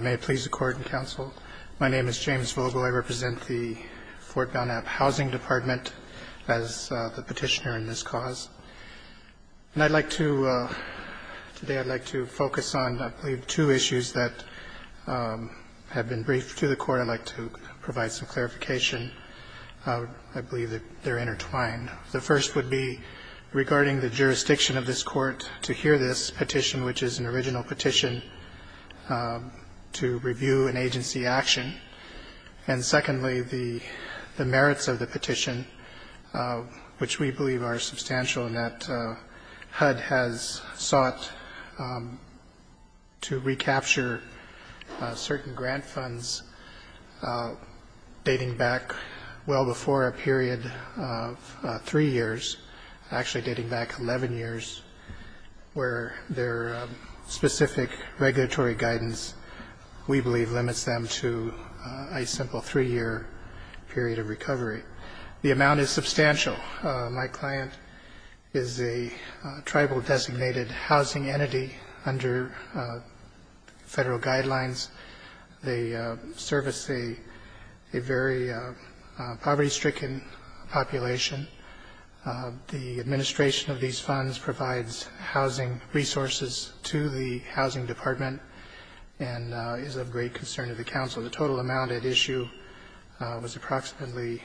May it please the Court and Counsel, my name is James Vogel. I represent the Fort Belknap Housing Department as the petitioner in this cause. And I'd like to, today I'd like to focus on, I believe, two issues that have been briefed to the Court. I'd like to provide some clarification. I believe that they're intertwined. The first would be regarding the jurisdiction of this Court to hear this petition, which is an original petition. To review an agency action. And secondly, the merits of the petition, which we believe are substantial in that HUD has sought to recapture certain grant funds dating back well before a period of three years, actually dating back 11 years, where their specific regulatory guidance, we believe, limits them to a simple three-year period of recovery. The amount is substantial. My client is a tribal-designated housing entity under Federal guidelines. They service a very poverty-stricken population. The administration of these funds provides housing resources to the Housing Department and is of great concern to the Council. So the total amount at issue was approximately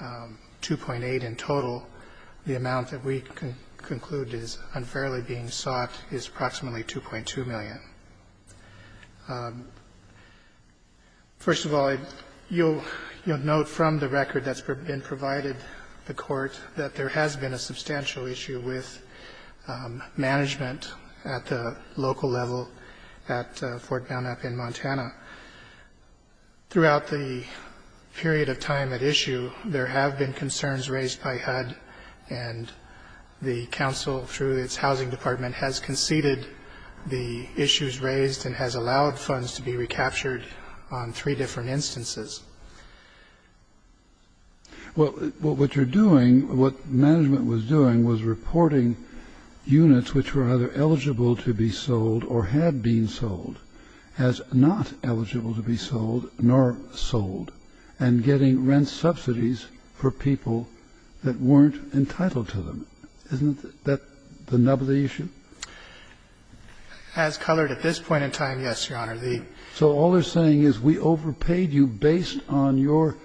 2.8 in total. The amount that we conclude is unfairly being sought is approximately 2.2 million. First of all, you'll note from the record that's been provided to the Court that there has been a substantial issue with management at the local level at Fort Belknap in Montana. Throughout the period of time at issue, there have been concerns raised by HUD, and the Council, through its Housing Department, has conceded the issues raised and has allowed funds to be recaptured on three different instances. Well, what you're doing, what management was doing was reporting units which were either eligible to be sold or had been sold as not eligible to be sold nor sold and getting rent subsidies for people that weren't entitled to them. Isn't that the nub of the issue? As colored at this point in time, yes, Your Honor. So all they're saying is we overpaid you based on your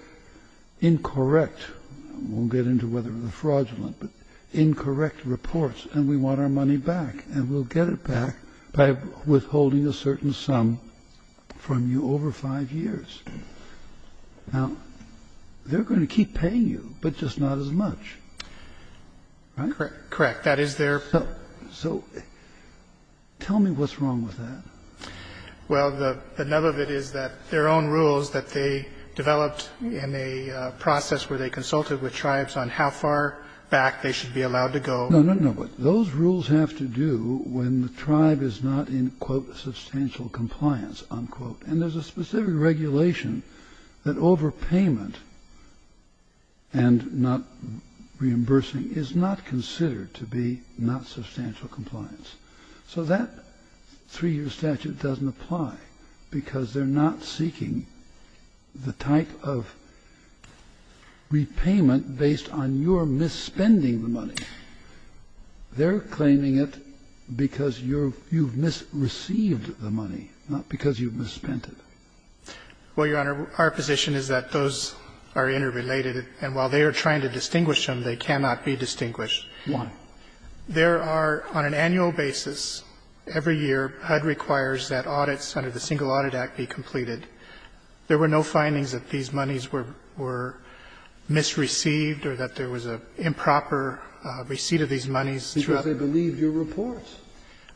incorrect — I won't get into whether the fraudulent, but incorrect reports, and we want our money back, and we'll get it back by withholding a certain sum from you over five years. Now, they're going to keep paying you, but just not as much, right? Correct. That is their — So tell me what's wrong with that. Well, the nub of it is that their own rules that they developed in a process where they consulted with tribes on how far back they should be allowed to go. No, no, no. Those rules have to do when the tribe is not in, quote, substantial compliance, unquote. And there's a specific regulation that overpayment and not reimbursing is not considered to be not substantial compliance. So that three-year statute doesn't apply, because they're not seeking the type of repayment based on your misspending the money. They're claiming it because you're — you've misreceived the money, not because you've misspent it. Well, Your Honor, our position is that those are interrelated, and while they are trying to distinguish them, they cannot be distinguished. One, there are, on an annual basis, every year HUD requires that audits under the Single Audit Act be completed. There were no findings that these monies were misreceived or that there was an improper receipt of these monies. Because they believe your report.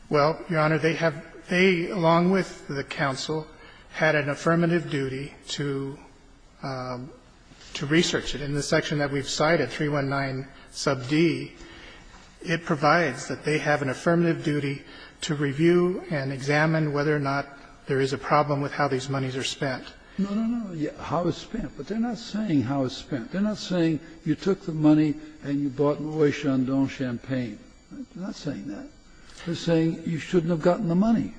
Well, Your Honor, they have — they, along with the counsel, had an affirmative duty to — to research it. In the section that we've cited, 319, sub d, it provides that they have an affirmative duty to review and examine whether or not there is a problem with how these monies are spent. No, no, no, how it's spent. But they're not saying how it's spent. They're not saying you took the money and you bought Roy Chandon Champagne. They're not saying that. They're saying you shouldn't have gotten the money.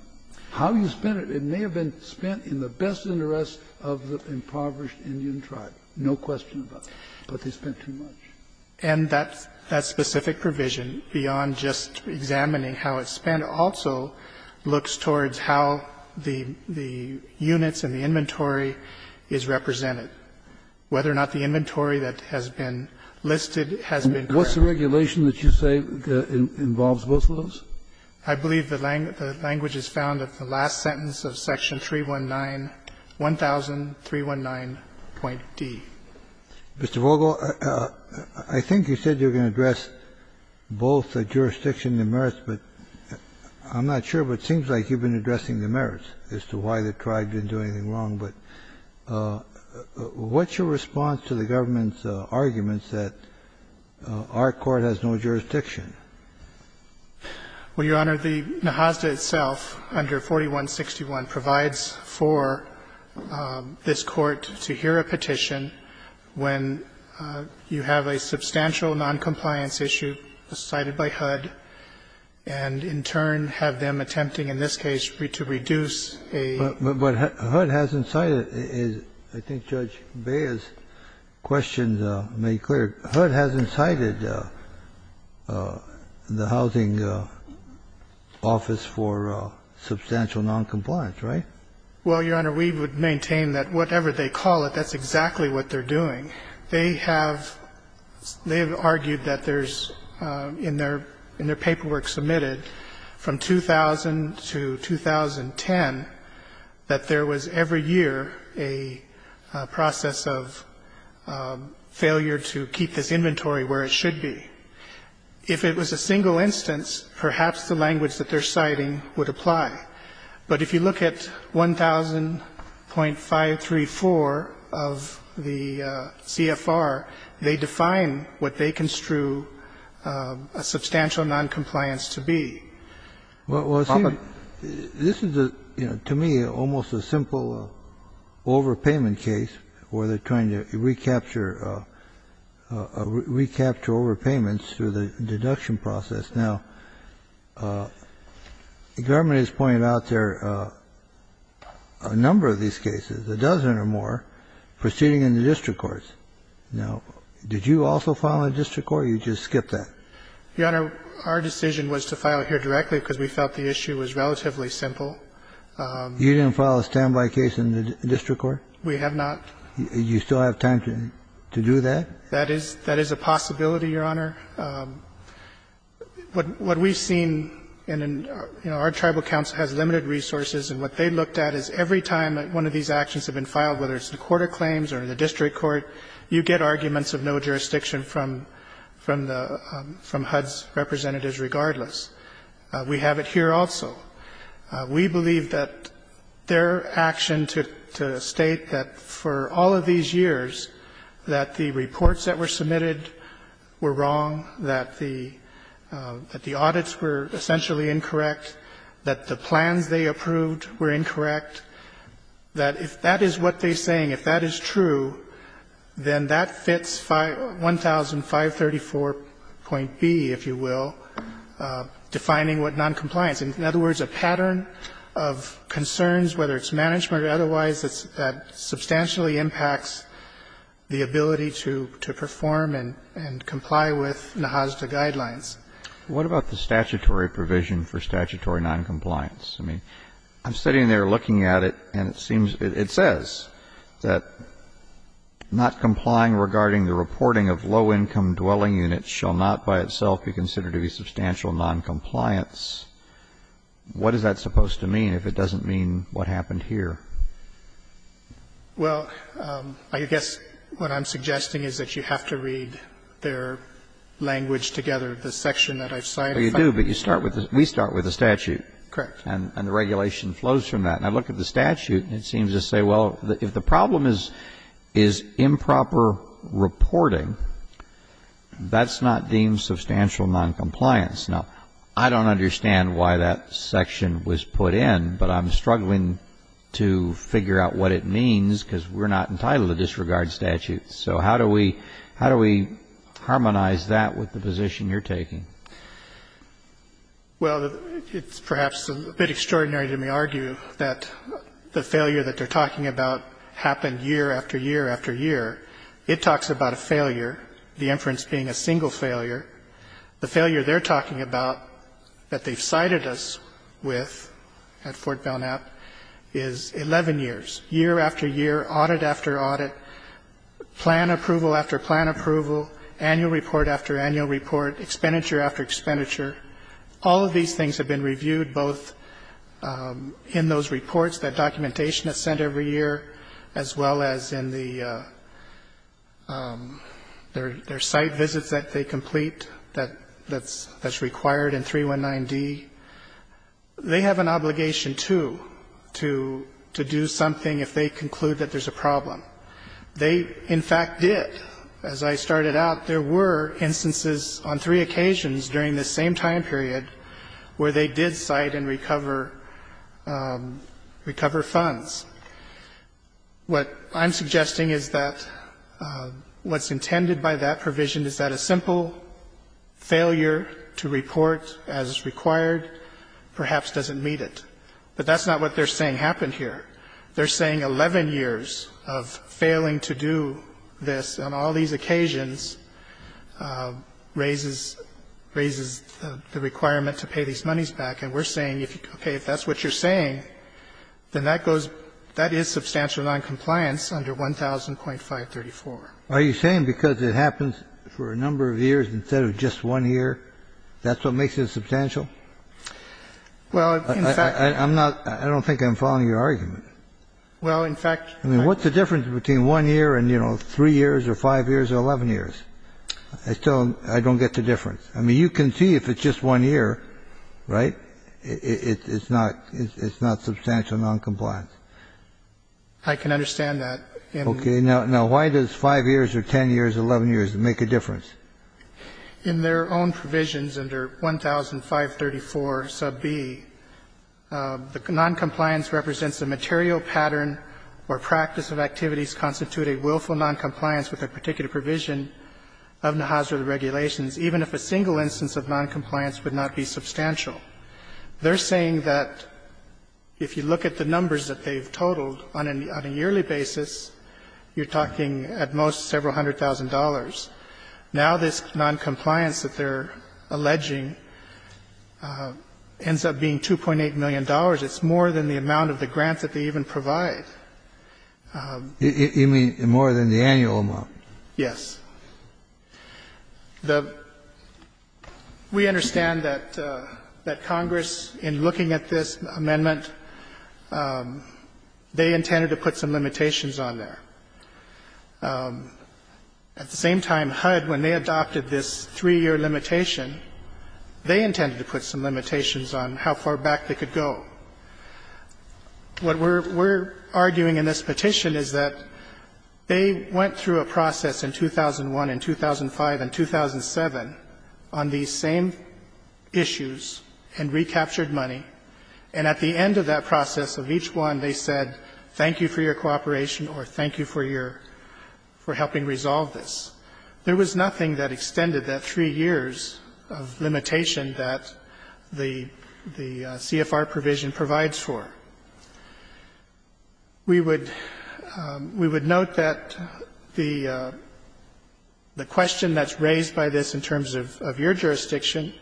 How you spent it, it may have been spent in the best interest of the impoverished Indian tribe, no question about it. But they spent too much. And that specific provision, beyond just examining how it's spent, also looks towards how the units and the inventory is represented, whether or not the inventory that has been listed has been correct. What's the regulation that you say involves both of those? I believe the language is found at the last sentence of section 319, 100319.d. Mr. Vogel, I think you said you're going to address both the jurisdiction and the merits, but I'm not sure, but it seems like you've been addressing the merits as to why the tribe didn't do anything wrong. But what's your response to the government's arguments that our court has no jurisdiction? Well, Your Honor, the NAHASDA itself, under 4161, provides for this court to hear a petition when you have a substantial noncompliance issue cited by HUD, and in turn have them attempting, in this case, to reduce a ---- But HUD hasn't cited, as I think Judge Beyer's questions made clear, HUD hasn't cited the Housing Office for substantial noncompliance, right? Well, Your Honor, we would maintain that whatever they call it, that's exactly what they're doing. They have argued that there's, in their paperwork submitted from 2000 to 2010, that there was, every year, a process of failure to keep this inventory where it should be. If it was a single instance, perhaps the language that they're citing would apply. But if you look at 1000.534 of the CFR, they define what they construe a substantial noncompliance to be. Well, see, this is, to me, almost a simple overpayment case where they're trying to recapture overpayments through the deduction process. Now, the government has pointed out there a number of these cases, a dozen or more, proceeding in the district courts. Now, did you also file in the district court, or did you just skip that? Your Honor, our decision was to file here directly because we felt the issue was relatively simple. You didn't file a standby case in the district court? We have not. You still have time to do that? That is a possibility, Your Honor. What we've seen in our tribal council has limited resources, and what they looked at is every time one of these actions have been filed, whether it's in a court of claims or in the district court, you get arguments of no jurisdiction from HUD's representatives regardless. We have it here also. We believe that their action to state that for all of these years that the reports that were submitted were wrong, that the audits were essentially incorrect, that the plans they approved were incorrect, that if that is what they're saying, if that is true, then that fits 1,534.B, if you will, defining what noncompliance is, in other words, a pattern of concerns, whether it's management or otherwise, that substantially impacts the ability to perform and comply with NAHASDA guidelines. What about the statutory provision for statutory noncompliance? I mean, I'm sitting there looking at it, and it seems, it says that not complying regarding the reporting of low-income dwelling units shall not by itself be considered to be substantial noncompliance. What is that supposed to mean if it doesn't mean what happened here? Well, I guess what I'm suggesting is that you have to read their language together, the section that I've cited. Well, you do, but you start with the we start with the statute. Correct. And the regulation flows from that. And I look at the statute, and it seems to say, well, if the problem is improper reporting, that's not deemed substantial noncompliance. Now, I don't understand why that section was put in, but I'm struggling to figure out what it means, because we're not entitled to disregard statutes. So how do we harmonize that with the position you're taking? Well, it's perhaps a bit extraordinary to me to argue that the failure that they're It talks about a failure, the inference being a single failure. The failure they're talking about, that they've cited us with at Fort Belknap, is 11 years, year after year, audit after audit, plan approval after plan approval, annual report after annual report, expenditure after expenditure. All of these things have been reviewed, both in those reports that documentation is sent every year, as well as in their site visits that they complete that's required in 319D. They have an obligation, too, to do something if they conclude that there's a problem. They, in fact, did. As I started out, there were instances on three occasions during this same time period where they did cite and recover funds. What I'm suggesting is that what's intended by that provision is that a simple failure to report as required perhaps doesn't meet it. But that's not what they're saying happened here. They're saying 11 years of failing to do this on all these occasions raises the requirement to pay these monies back. And we're saying, okay, if that's what you're saying, then that goes – that is substantial noncompliance under 1000.534. Kennedy, are you saying because it happens for a number of years instead of just one year, that's what makes it substantial? Well, in fact – I'm not – I don't think I'm following your argument. Well, in fact – I mean, what's the difference between one year and, you know, 3 years or 5 years or 11 years? I still don't get the difference. I mean, you can see if it's just one year, right, it's not – it's not substantial noncompliance. I can understand that. Okay. Now, why does 5 years or 10 years, 11 years make a difference? In their own provisions under 1000.534 sub B, the noncompliance represents a material pattern or practice of activities constituting willful noncompliance with a particular provision of the Hazardous Regulations, even if a single instance of noncompliance would not be substantial. They're saying that if you look at the numbers that they've totaled, on a yearly basis, you're talking at most several hundred thousand dollars. Now this noncompliance that they're alleging ends up being $2.8 million. It's more than the amount of the grants that they even provide. You mean more than the annual amount? Yes. The – we understand that Congress, in looking at this amendment, they intended to put some limitations on there. At the same time, HUD, when they adopted this 3-year limitation, they intended to put some limitations on how far back they could go. What we're arguing in this petition is that they went through a process in 2001 and 2005 and 2007 on these same issues and recaptured money, and at the end of that process of each one, they said, thank you for your cooperation or thank you for your – for helping resolve this. There was nothing that extended that 3 years of limitation that the CFR provision provides for. We would note that the question that's raised by this in terms of your jurisdiction,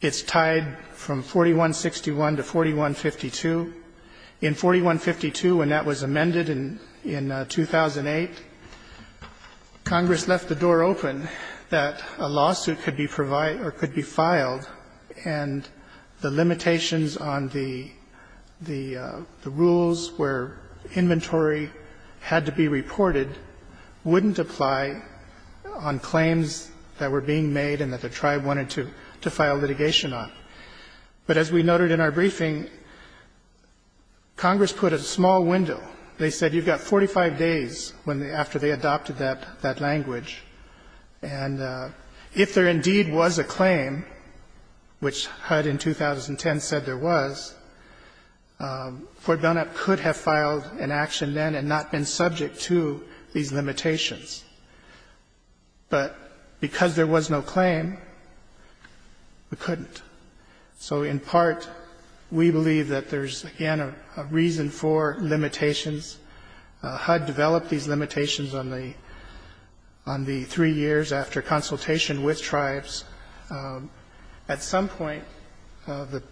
it's tied from 4161 to 4152. In 4152, when that was amended in 2008, Congress left the door open that a lawsuit could be provided or could be filed, and the limitations on the rules where inventory had to be reported wouldn't apply on claims that were being made and that the tribe wanted to file litigation on. But as we noted in our briefing, Congress put a small window. They said, you've got 45 days after they adopted that language, and if there indeed was a claim, which HUD in 2010 said there was, Fort Belknap could have filed an action then and not been subject to these limitations. So in part, we believe that there's, again, a reason for limitations. HUD developed these limitations on the 3 years after consultation with tribes. At some point, the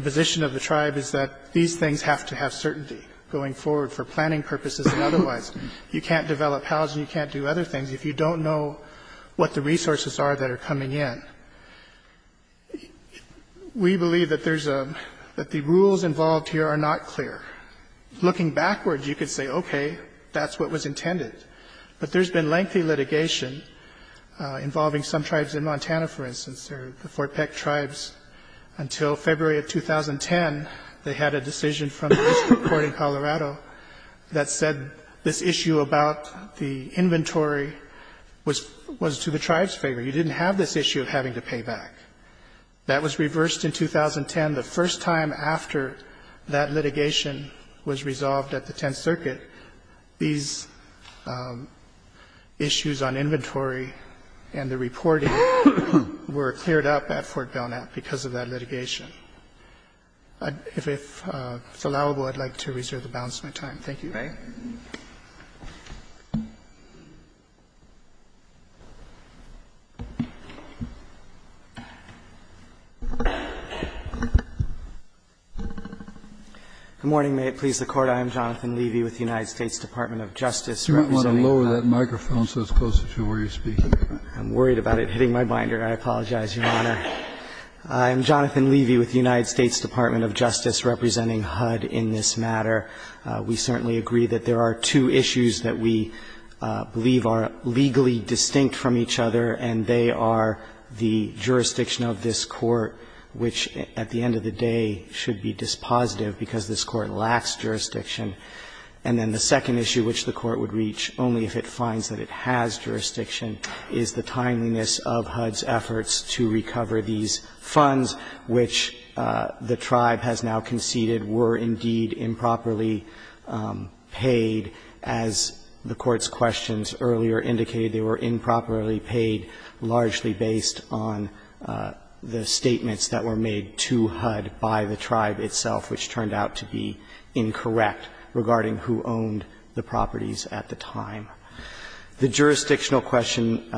position of the tribe is that these things have to have certainty going forward for planning purposes and otherwise. You can't develop housing, you can't do other things if you don't know what the resources are that are coming in. We believe that there's a – that the rules involved here are not clear. Looking backwards, you could say, okay, that's what was intended. But there's been lengthy litigation involving some tribes in Montana, for instance. The Fort Peck tribes, until February of 2010, they had a decision from the district court in Colorado that said this issue about the inventory was to the tribe's favor. You didn't have this issue of having to pay back. That was reversed in 2010. The first time after that litigation was resolved at the Tenth Circuit, these issues on inventory and the reporting were cleared up at Fort Belknap because of that litigation. If it's allowable, I'd like to reserve the balance of my time. Thank you. Roberts. You may. Leevey. Good morning. May it please the Court. I am Jonathan Leevey with the United States Department of Justice, representing HUD. You might want to lower that microphone so it's closer to where you're speaking. I'm worried about it hitting my binder. I apologize, Your Honor. I'm Jonathan Leevey with the United States Department of Justice, representing HUD in this matter. We certainly agree that there are two issues that we believe are legally distinct from each other, and they are the jurisdiction of this Court, which at the end of the day should be dispositive because this Court lacks jurisdiction. And then the second issue which the Court would reach, only if it finds that it has jurisdiction, is the timeliness of HUD's efforts to recover these funds, which the tribe has now conceded were indeed improperly paid, as the Court's questions earlier indicated. They were improperly paid largely based on the statements that were made to HUD by the tribe itself, which turned out to be incorrect regarding who owned the properties at the time. The jurisdictional question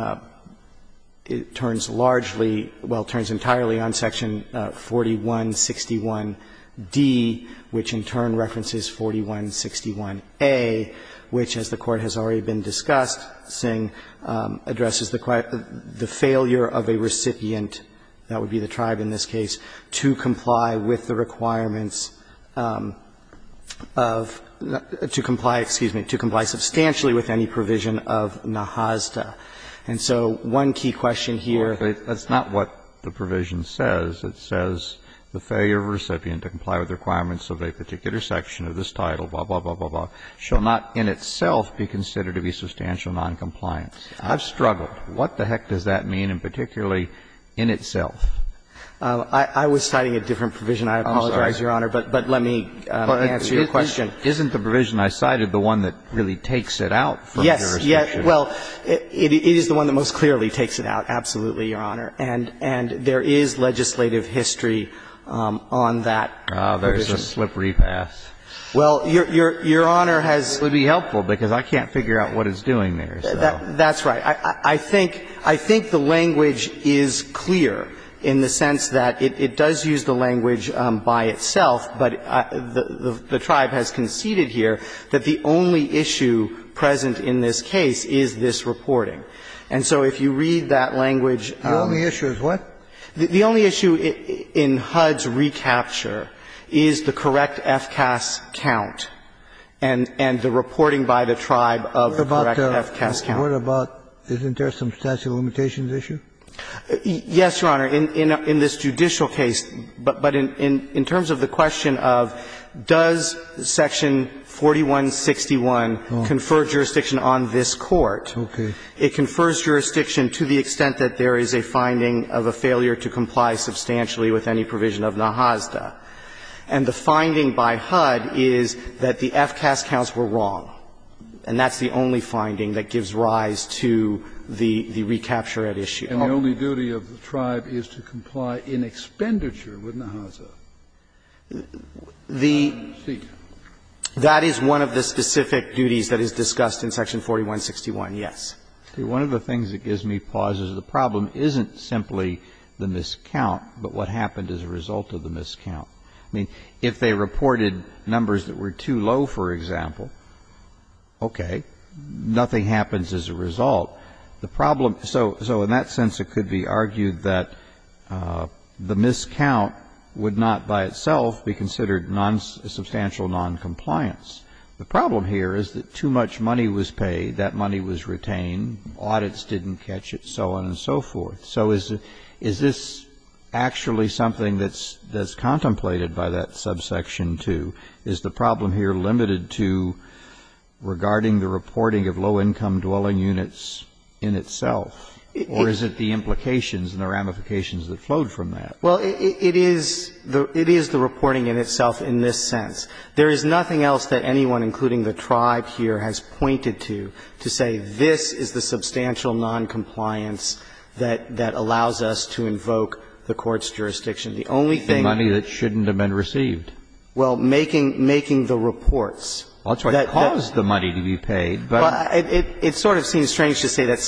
turns largely, well, turns entirely on Section 48 of the 4161d, which in turn references 4161a, which, as the Court has already been discussing, addresses the failure of a recipient, that would be the tribe in this case, to comply with the requirements of the to comply, excuse me, to comply substantially with any provision of NAJASDA. And so one key question here is that's not what the provision says. It says the failure of a recipient to comply with the requirements of a particular section of this title, blah, blah, blah, blah, blah, shall not in itself be considered to be substantial noncompliance. I've struggled. What the heck does that mean, and particularly in itself? I was citing a different provision. I apologize, Your Honor, but let me answer your question. Isn't the provision I cited the one that really takes it out from jurisdiction? Yes. Well, it is the one that most clearly takes it out, absolutely, Your Honor. And there is legislative history on that provision. Oh, there's a slippery pass. Well, Your Honor has to be helpful because I can't figure out what it's doing there. That's right. I think the language is clear in the sense that it does use the language by itself, but the tribe has conceded here that the only issue present in this case is this reporting. And so if you read that language. The only issue is what? The only issue in HUD's recapture is the correct FCAS count and the reporting by the tribe of the correct FCAS count. What about, isn't there some statute of limitations issue? Yes, Your Honor. In this judicial case. But in terms of the question of does section 4161 confer jurisdiction on this court. Okay. It confers jurisdiction to the extent that there is a finding of a failure to comply substantially with any provision of NAHASDA. And the finding by HUD is that the FCAS counts were wrong. And that's the only finding that gives rise to the recapture at issue. And the only duty of the tribe is to comply in expenditure with NAHASDA. The. Speak. That is one of the specific duties that is discussed in section 4161, yes. See, one of the things that gives me pause is the problem isn't simply the miscount, but what happened as a result of the miscount. I mean, if they reported numbers that were too low, for example. Okay. Nothing happens as a result. The problem. So in that sense, it could be argued that the miscount would not by itself be considered non substantial noncompliance. The problem here is that too much money was paid. That money was retained. Audits didn't catch it, so on and so forth. So is this actually something that's contemplated by that subsection 2? Is the problem here limited to regarding the reporting of low income dwelling units in itself? Or is it the implications and the ramifications that flowed from that? Well, it is the reporting in itself in this sense. There is nothing else that anyone, including the tribe here, has pointed to, to say this is the substantial noncompliance that allows us to invoke the Court's jurisdiction. The only thing. The money that shouldn't have been received. Well, making the reports. Well, that's what caused the money to be paid, but. It sort of seems strange to say that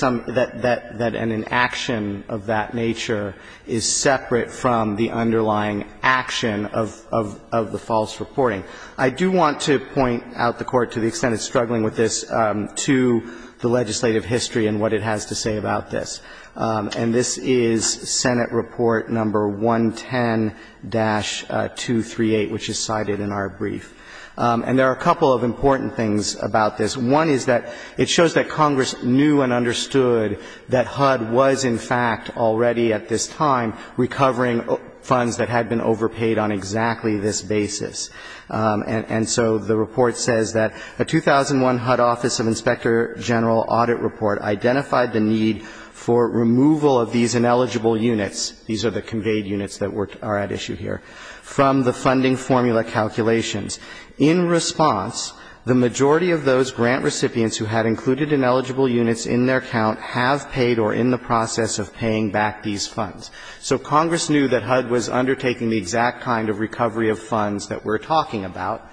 an inaction of that nature is separate from the underlying action of the false reporting. I do want to point out the Court to the extent it's struggling with this to the legislative history and what it has to say about this. And this is Senate Report Number 110-238, which is cited in our brief. And there are a couple of important things about this. One is that it shows that Congress knew and understood that HUD was in fact already at this time recovering funds that had been overpaid on exactly this basis. And so the report says that a 2001 HUD Office of Inspector General audit report identified the need for removal of these ineligible units, these are the conveyed units that are at issue here, from the funding formula calculations. In response, the majority of those grant recipients who had included ineligible units in their count have paid or are in the process of paying back these funds. So Congress knew that HUD was undertaking the exact kind of recovery of funds that we're talking about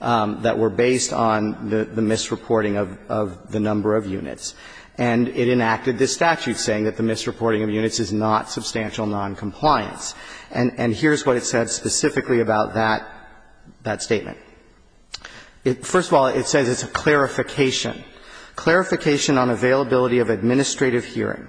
that were based on the misreporting of the number of units. And it enacted this statute saying that the misreporting of units is not substantial noncompliance. And here's what it said specifically about that statement. First of all, it says it's a clarification. Clarification on availability of administrative hearing.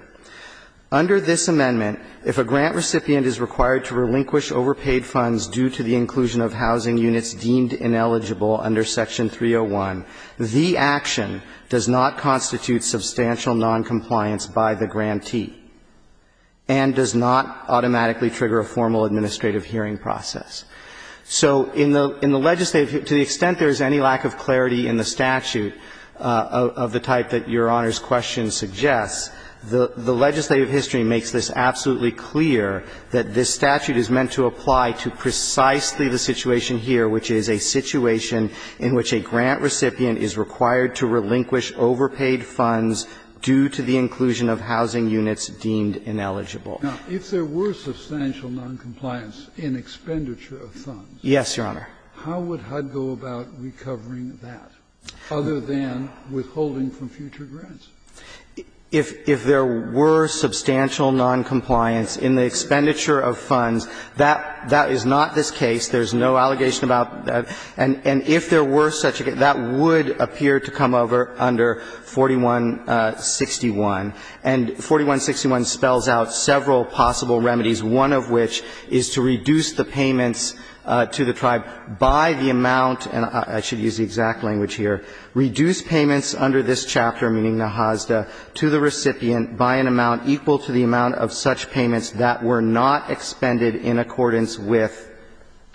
Under this amendment, if a grant recipient is required to relinquish overpaid funds due to the inclusion of housing units deemed ineligible under Section 301, the action does not constitute substantial noncompliance by the grantee and does not automatically trigger a formal administrative hearing process. So in the legislative, to the extent there is any lack of clarity in the statute of the type that Your Honor's question suggests, the legislative hearing does not constitute substantial noncompliance. So the legislative history makes this absolutely clear that this statute is meant to apply to precisely the situation here, which is a situation in which a grant recipient is required to relinquish overpaid funds due to the inclusion of housing units deemed ineligible. Kennedy. Now, if there were substantial noncompliance in expenditure of funds. Yes, Your Honor. How would HUD go about recovering that other than withholding from future grants? If there were substantial noncompliance in the expenditure of funds, that is not this case. There's no allegation about that. And if there were such a case, that would appear to come over under 4161. And 4161 spells out several possible remedies, one of which is to reduce the payments to the tribe by the amount, and I should use the exact language here, reduce payments under this chapter, meaning Nahasda, to the recipient by an amount equal to the amount of such payments that were not expended in accordance with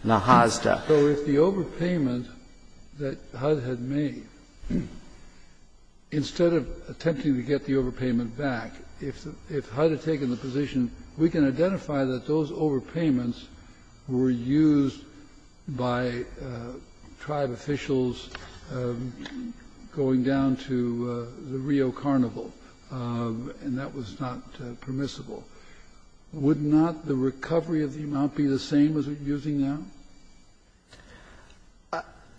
Nahasda. So if the overpayment that HUD had made, instead of attempting to get the overpayment back, if HUD had taken the position, we can identify that those overpayments were used by tribe officials going down to the Rio Carnival, and that was not permissible. Would not the recovery of the amount be the same as it's using now?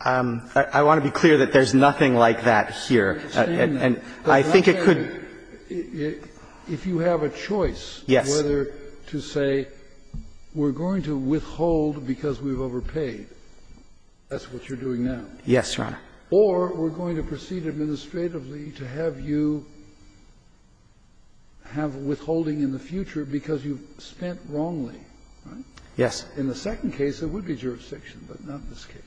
I want to be clear that there's nothing like that here. And I think it could be. If you have a choice whether to say we're going to withhold because we've overpaid, that's what you're doing now. Yes, Your Honor. Or we're going to proceed administratively to have you have withholding in the future because you've spent wrongly, right? Yes. In the second case, there would be jurisdiction, but not in this case.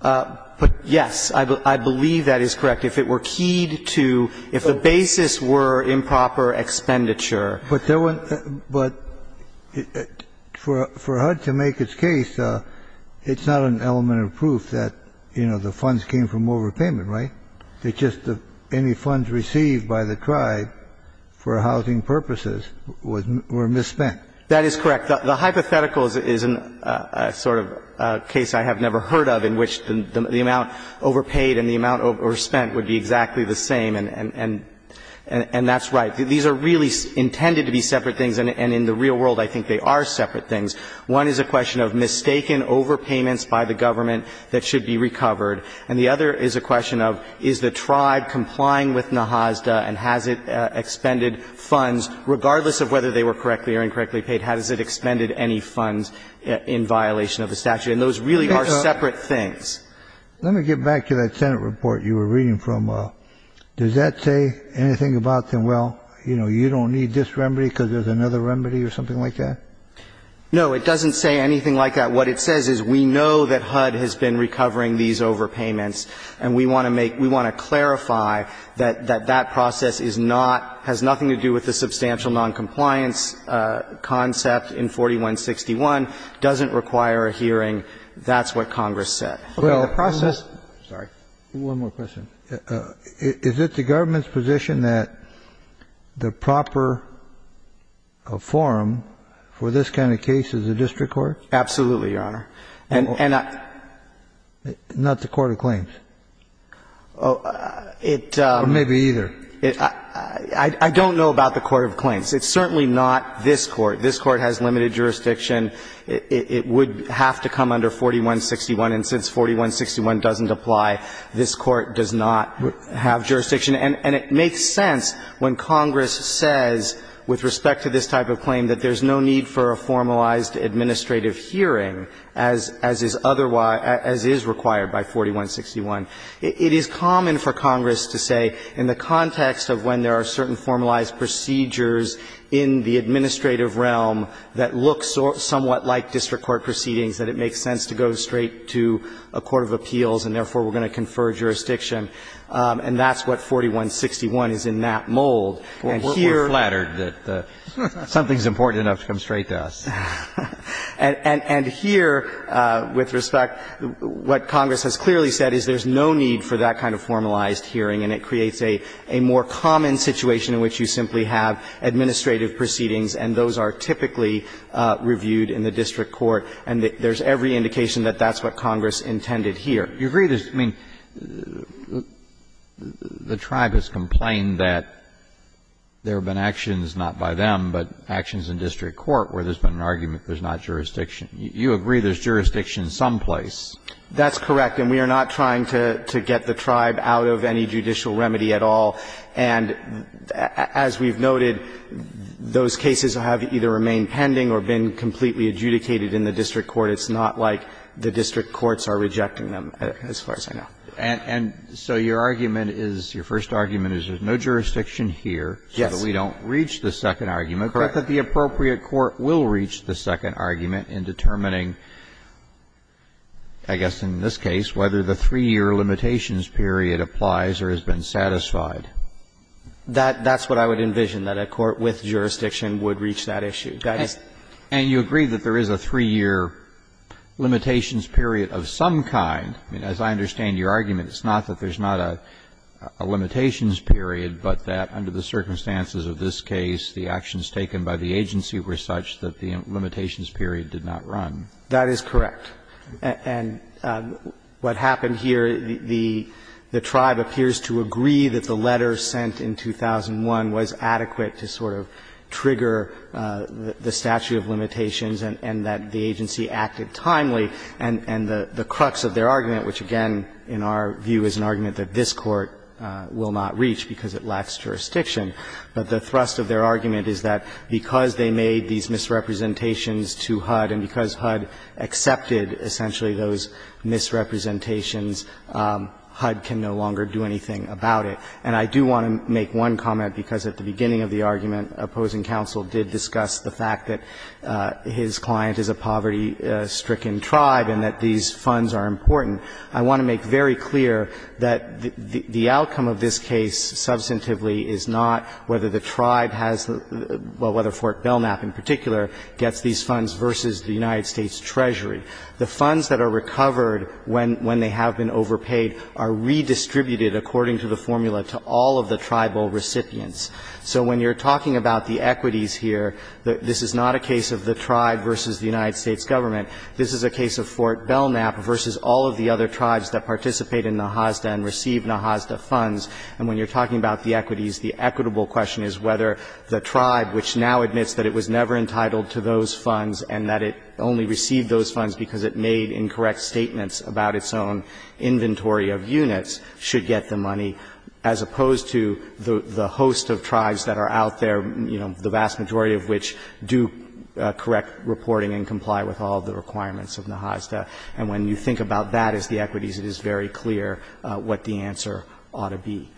But, yes, I believe that is correct. If it were keyed to, if the basis were improper expenditure. But there weren't, but for HUD to make its case, it's not an element of proof that, you know, the funds came from overpayment, right? It's just any funds received by the tribe for housing purposes were misspent. That is correct. The hypothetical is a sort of case I have never heard of in which the amount overpaid and the amount overspent would be exactly the same, and that's right. These are really intended to be separate things, and in the real world, I think they are separate things. One is a question of mistaken overpayments by the government that should be recovered. And the other is a question of is the tribe complying with NAHAZDA and has it expended funds, regardless of whether they were correctly or incorrectly paid, has it expended any funds in violation of the statute. And those really are separate things. Let me get back to that Senate report you were reading from. Does that say anything about, well, you know, you don't need this remedy because there's another remedy or something like that? No, it doesn't say anything like that. What it says is we know that HUD has been recovering these overpayments, and we want to make, we want to clarify that that process is not, has nothing to do with the substantial noncompliance concept in 4161, doesn't require a hearing. That's what Congress said. Okay. The process. I'm sorry. One more question. Is it the government's position that the proper forum for this kind of case is a district court? Absolutely, Your Honor. And I. Not the court of claims? It. Or maybe either. I don't know about the court of claims. It's certainly not this Court. This Court has limited jurisdiction. It would have to come under 4161, and since 4161 doesn't apply, this Court does not have jurisdiction. And it makes sense when Congress says, with respect to this type of claim, that there's no need for a formalized administrative hearing, as is otherwise, as is required by 4161. It is common for Congress to say, in the context of when there are certain formalized procedures in the administrative realm that look somewhat like district court proceedings, that it makes sense to go straight to a court of appeals, and therefore, we're going to confer jurisdiction, and that's what 4161 is in that mold. We're flattered that something's important enough to come straight to us. And here, with respect, what Congress has clearly said is there's no need for that kind of formalized hearing, and it creates a more common situation in which you simply have administrative proceedings, and those are typically reviewed in the district court, and there's every indication that that's what Congress intended here. You agree that the tribe has complained that there have been actions, not by them, but actions in district court where there's been an argument that there's not jurisdiction. You agree there's jurisdiction someplace. That's correct. And we are not trying to get the tribe out of any judicial remedy at all. And as we've noted, those cases have either remained pending or been completely adjudicated in the district court. It's not like the district courts are rejecting them, as far as I know. And so your argument is, your first argument is there's no jurisdiction here so that we don't reach the second argument, correct, that the appropriate court will reach the second argument in determining, I guess in this case, whether the three-year limitations period applies or has been satisfied. That's what I would envision, that a court with jurisdiction would reach that issue. And you agree that there is a three-year limitations period of some kind. I mean, as I understand your argument, it's not that there's not a limitations period, but that under the circumstances of this case, the actions taken by the agency were such that the limitations period did not run. That is correct. And what happened here, the tribe appears to agree that the letter sent in 2001 was adequate to sort of trigger the statute of limitations and that the agency acted timely, and the crux of their argument, which, again, in our view is an argument that this Court will not reach because it lacks jurisdiction, but the thrust of their argument is that the agency made these misrepresentations to HUD, and because HUD accepted, essentially, those misrepresentations, HUD can no longer do anything about it. And I do want to make one comment, because at the beginning of the argument, opposing counsel did discuss the fact that his client is a poverty-stricken tribe and that these funds are important. I want to make very clear that the outcome of this case substantively is not whether the tribe has the – well, whether Fort Belknap in particular gets these funds versus the United States Treasury. The funds that are recovered when they have been overpaid are redistributed, according to the formula, to all of the tribal recipients. So when you're talking about the equities here, this is not a case of the tribe versus the United States Government. This is a case of Fort Belknap versus all of the other tribes that participate in the NASDA and receive NASDA funds. And when you're talking about the equities, the equitable question is whether the tribe, which now admits that it was never entitled to those funds and that it only received those funds because it made incorrect statements about its own inventory of units, should get the money, as opposed to the host of tribes that are out there, you know, the vast majority of which do correct reporting and comply with all of the requirements of NASDA. And when you think about that as the equities, it is very clear what the answer ought to be.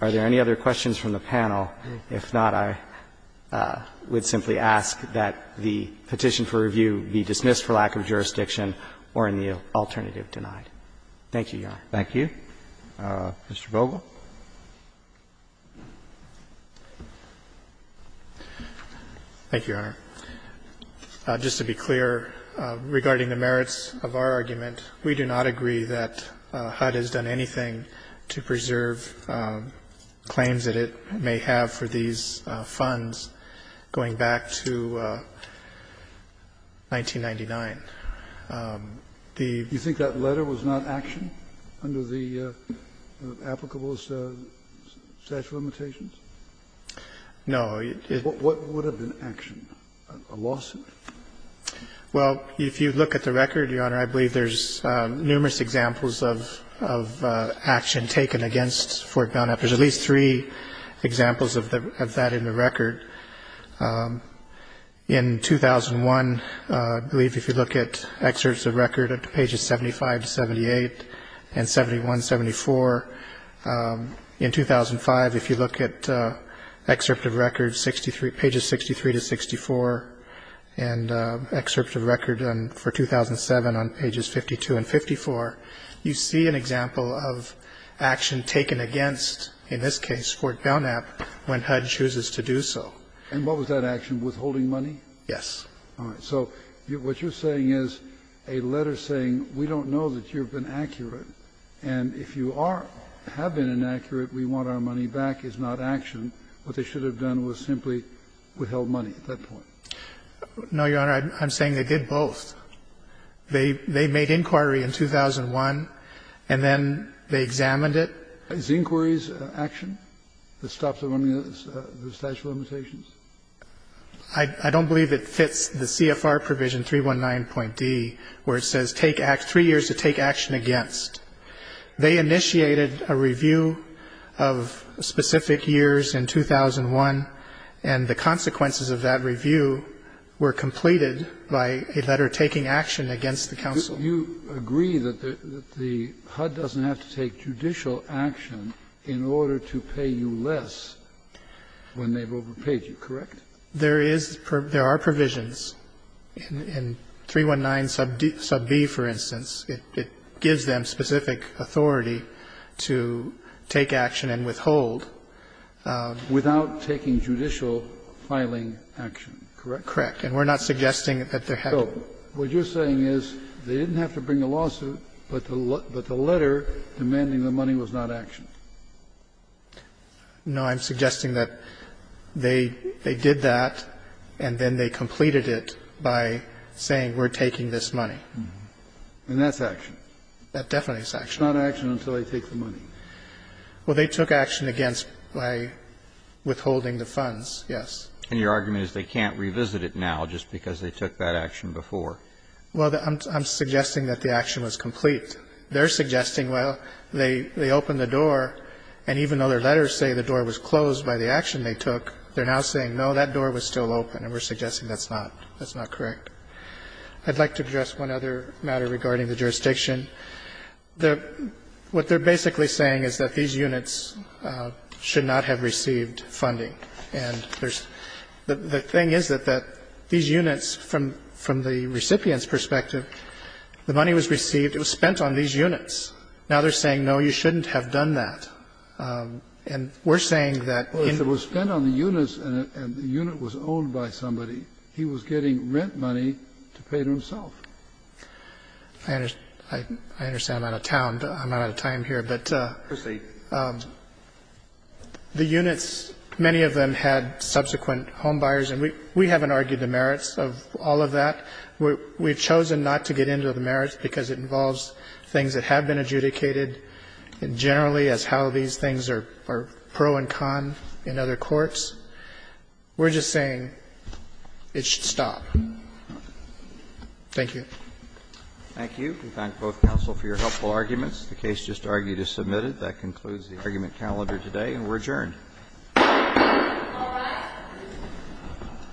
Are there any other questions from the panel? If not, I would simply ask that the petition for review be dismissed for lack of jurisdiction or in the alternative denied. Thank you, Your Honor. Roberts. Thank you. Mr. Bogle. Bogle. Thank you, Your Honor. Just to be clear, regarding the merits of our argument, we do not agree that HUD has done anything to preserve claims that it may have for these funds going back to 1999. The You think that letter was not actioned under the applicable statute of limitations? No. What would have been actioned? A lawsuit? Well, if you look at the record, Your Honor, I believe there's numerous examples of action taken against Fort Bowne. There's at least three examples of that in the record. In 2001, I believe if you look at excerpts of record at pages 75 to 78 and 71, 74. In 2005, if you look at excerpt of record 63, pages 63 to 64, and excerpt of record for 2007 on pages 52 and 54, you see an example of action taken against, in this case, Fort Bowne when HUD chooses to do so. And what was that action, withholding money? Yes. All right. So what you're saying is a letter saying we don't know that you've been accurate, and if you are or have been inaccurate, we want our money back is not action. What they should have done was simply withheld money at that point. No, Your Honor. I'm saying they did both. They made inquiry in 2001, and then they examined it. Is the inquiries action that stops the running of the statute of limitations? I don't believe it fits the CFR provision 319.D, where it says take three years to take action against. They initiated a review of specific years in 2001, and the consequences of that review were completed by a letter saying that they were taking action against the counsel. You agree that the HUD doesn't have to take judicial action in order to pay you less when they've overpaid you, correct? There is per ---- there are provisions in 319.B, for instance. It gives them specific authority to take action and withhold. Without taking judicial filing action, correct? Correct. And we're not suggesting that there had to be. So what you're saying is they didn't have to bring a lawsuit, but the letter demanding the money was not action? No. I'm suggesting that they did that, and then they completed it by saying we're taking this money. And that's action? That definitely is action. It's not action until they take the money. Well, they took action against by withholding the funds, yes. And your argument is they can't revisit it now just because they took that action before? Well, I'm suggesting that the action was complete. They're suggesting, well, they opened the door, and even though their letters say the door was closed by the action they took, they're now saying, no, that door was still open, and we're suggesting that's not correct. I'd like to address one other matter regarding the jurisdiction. What they're basically saying is that these units should not have received funding. And there's the thing is that these units, from the recipient's perspective, the money was received, it was spent on these units. Now they're saying, no, you shouldn't have done that. And we're saying that in the Well, if it was spent on the units and the unit was owned by somebody, he was getting rent money to pay to himself. I understand I'm out of town, but I'm out of time here. of this case. Many of them had subsequent homebuyers, and we haven't argued the merits of all of that. We've chosen not to get into the merits because it involves things that have been adjudicated generally as how these things are pro and con in other courts. We're just saying it should stop. Thank you. Thank you. We thank both counsel for your helpful arguments. The case just argued is submitted. That concludes the argument calendar today, and we're adjourned.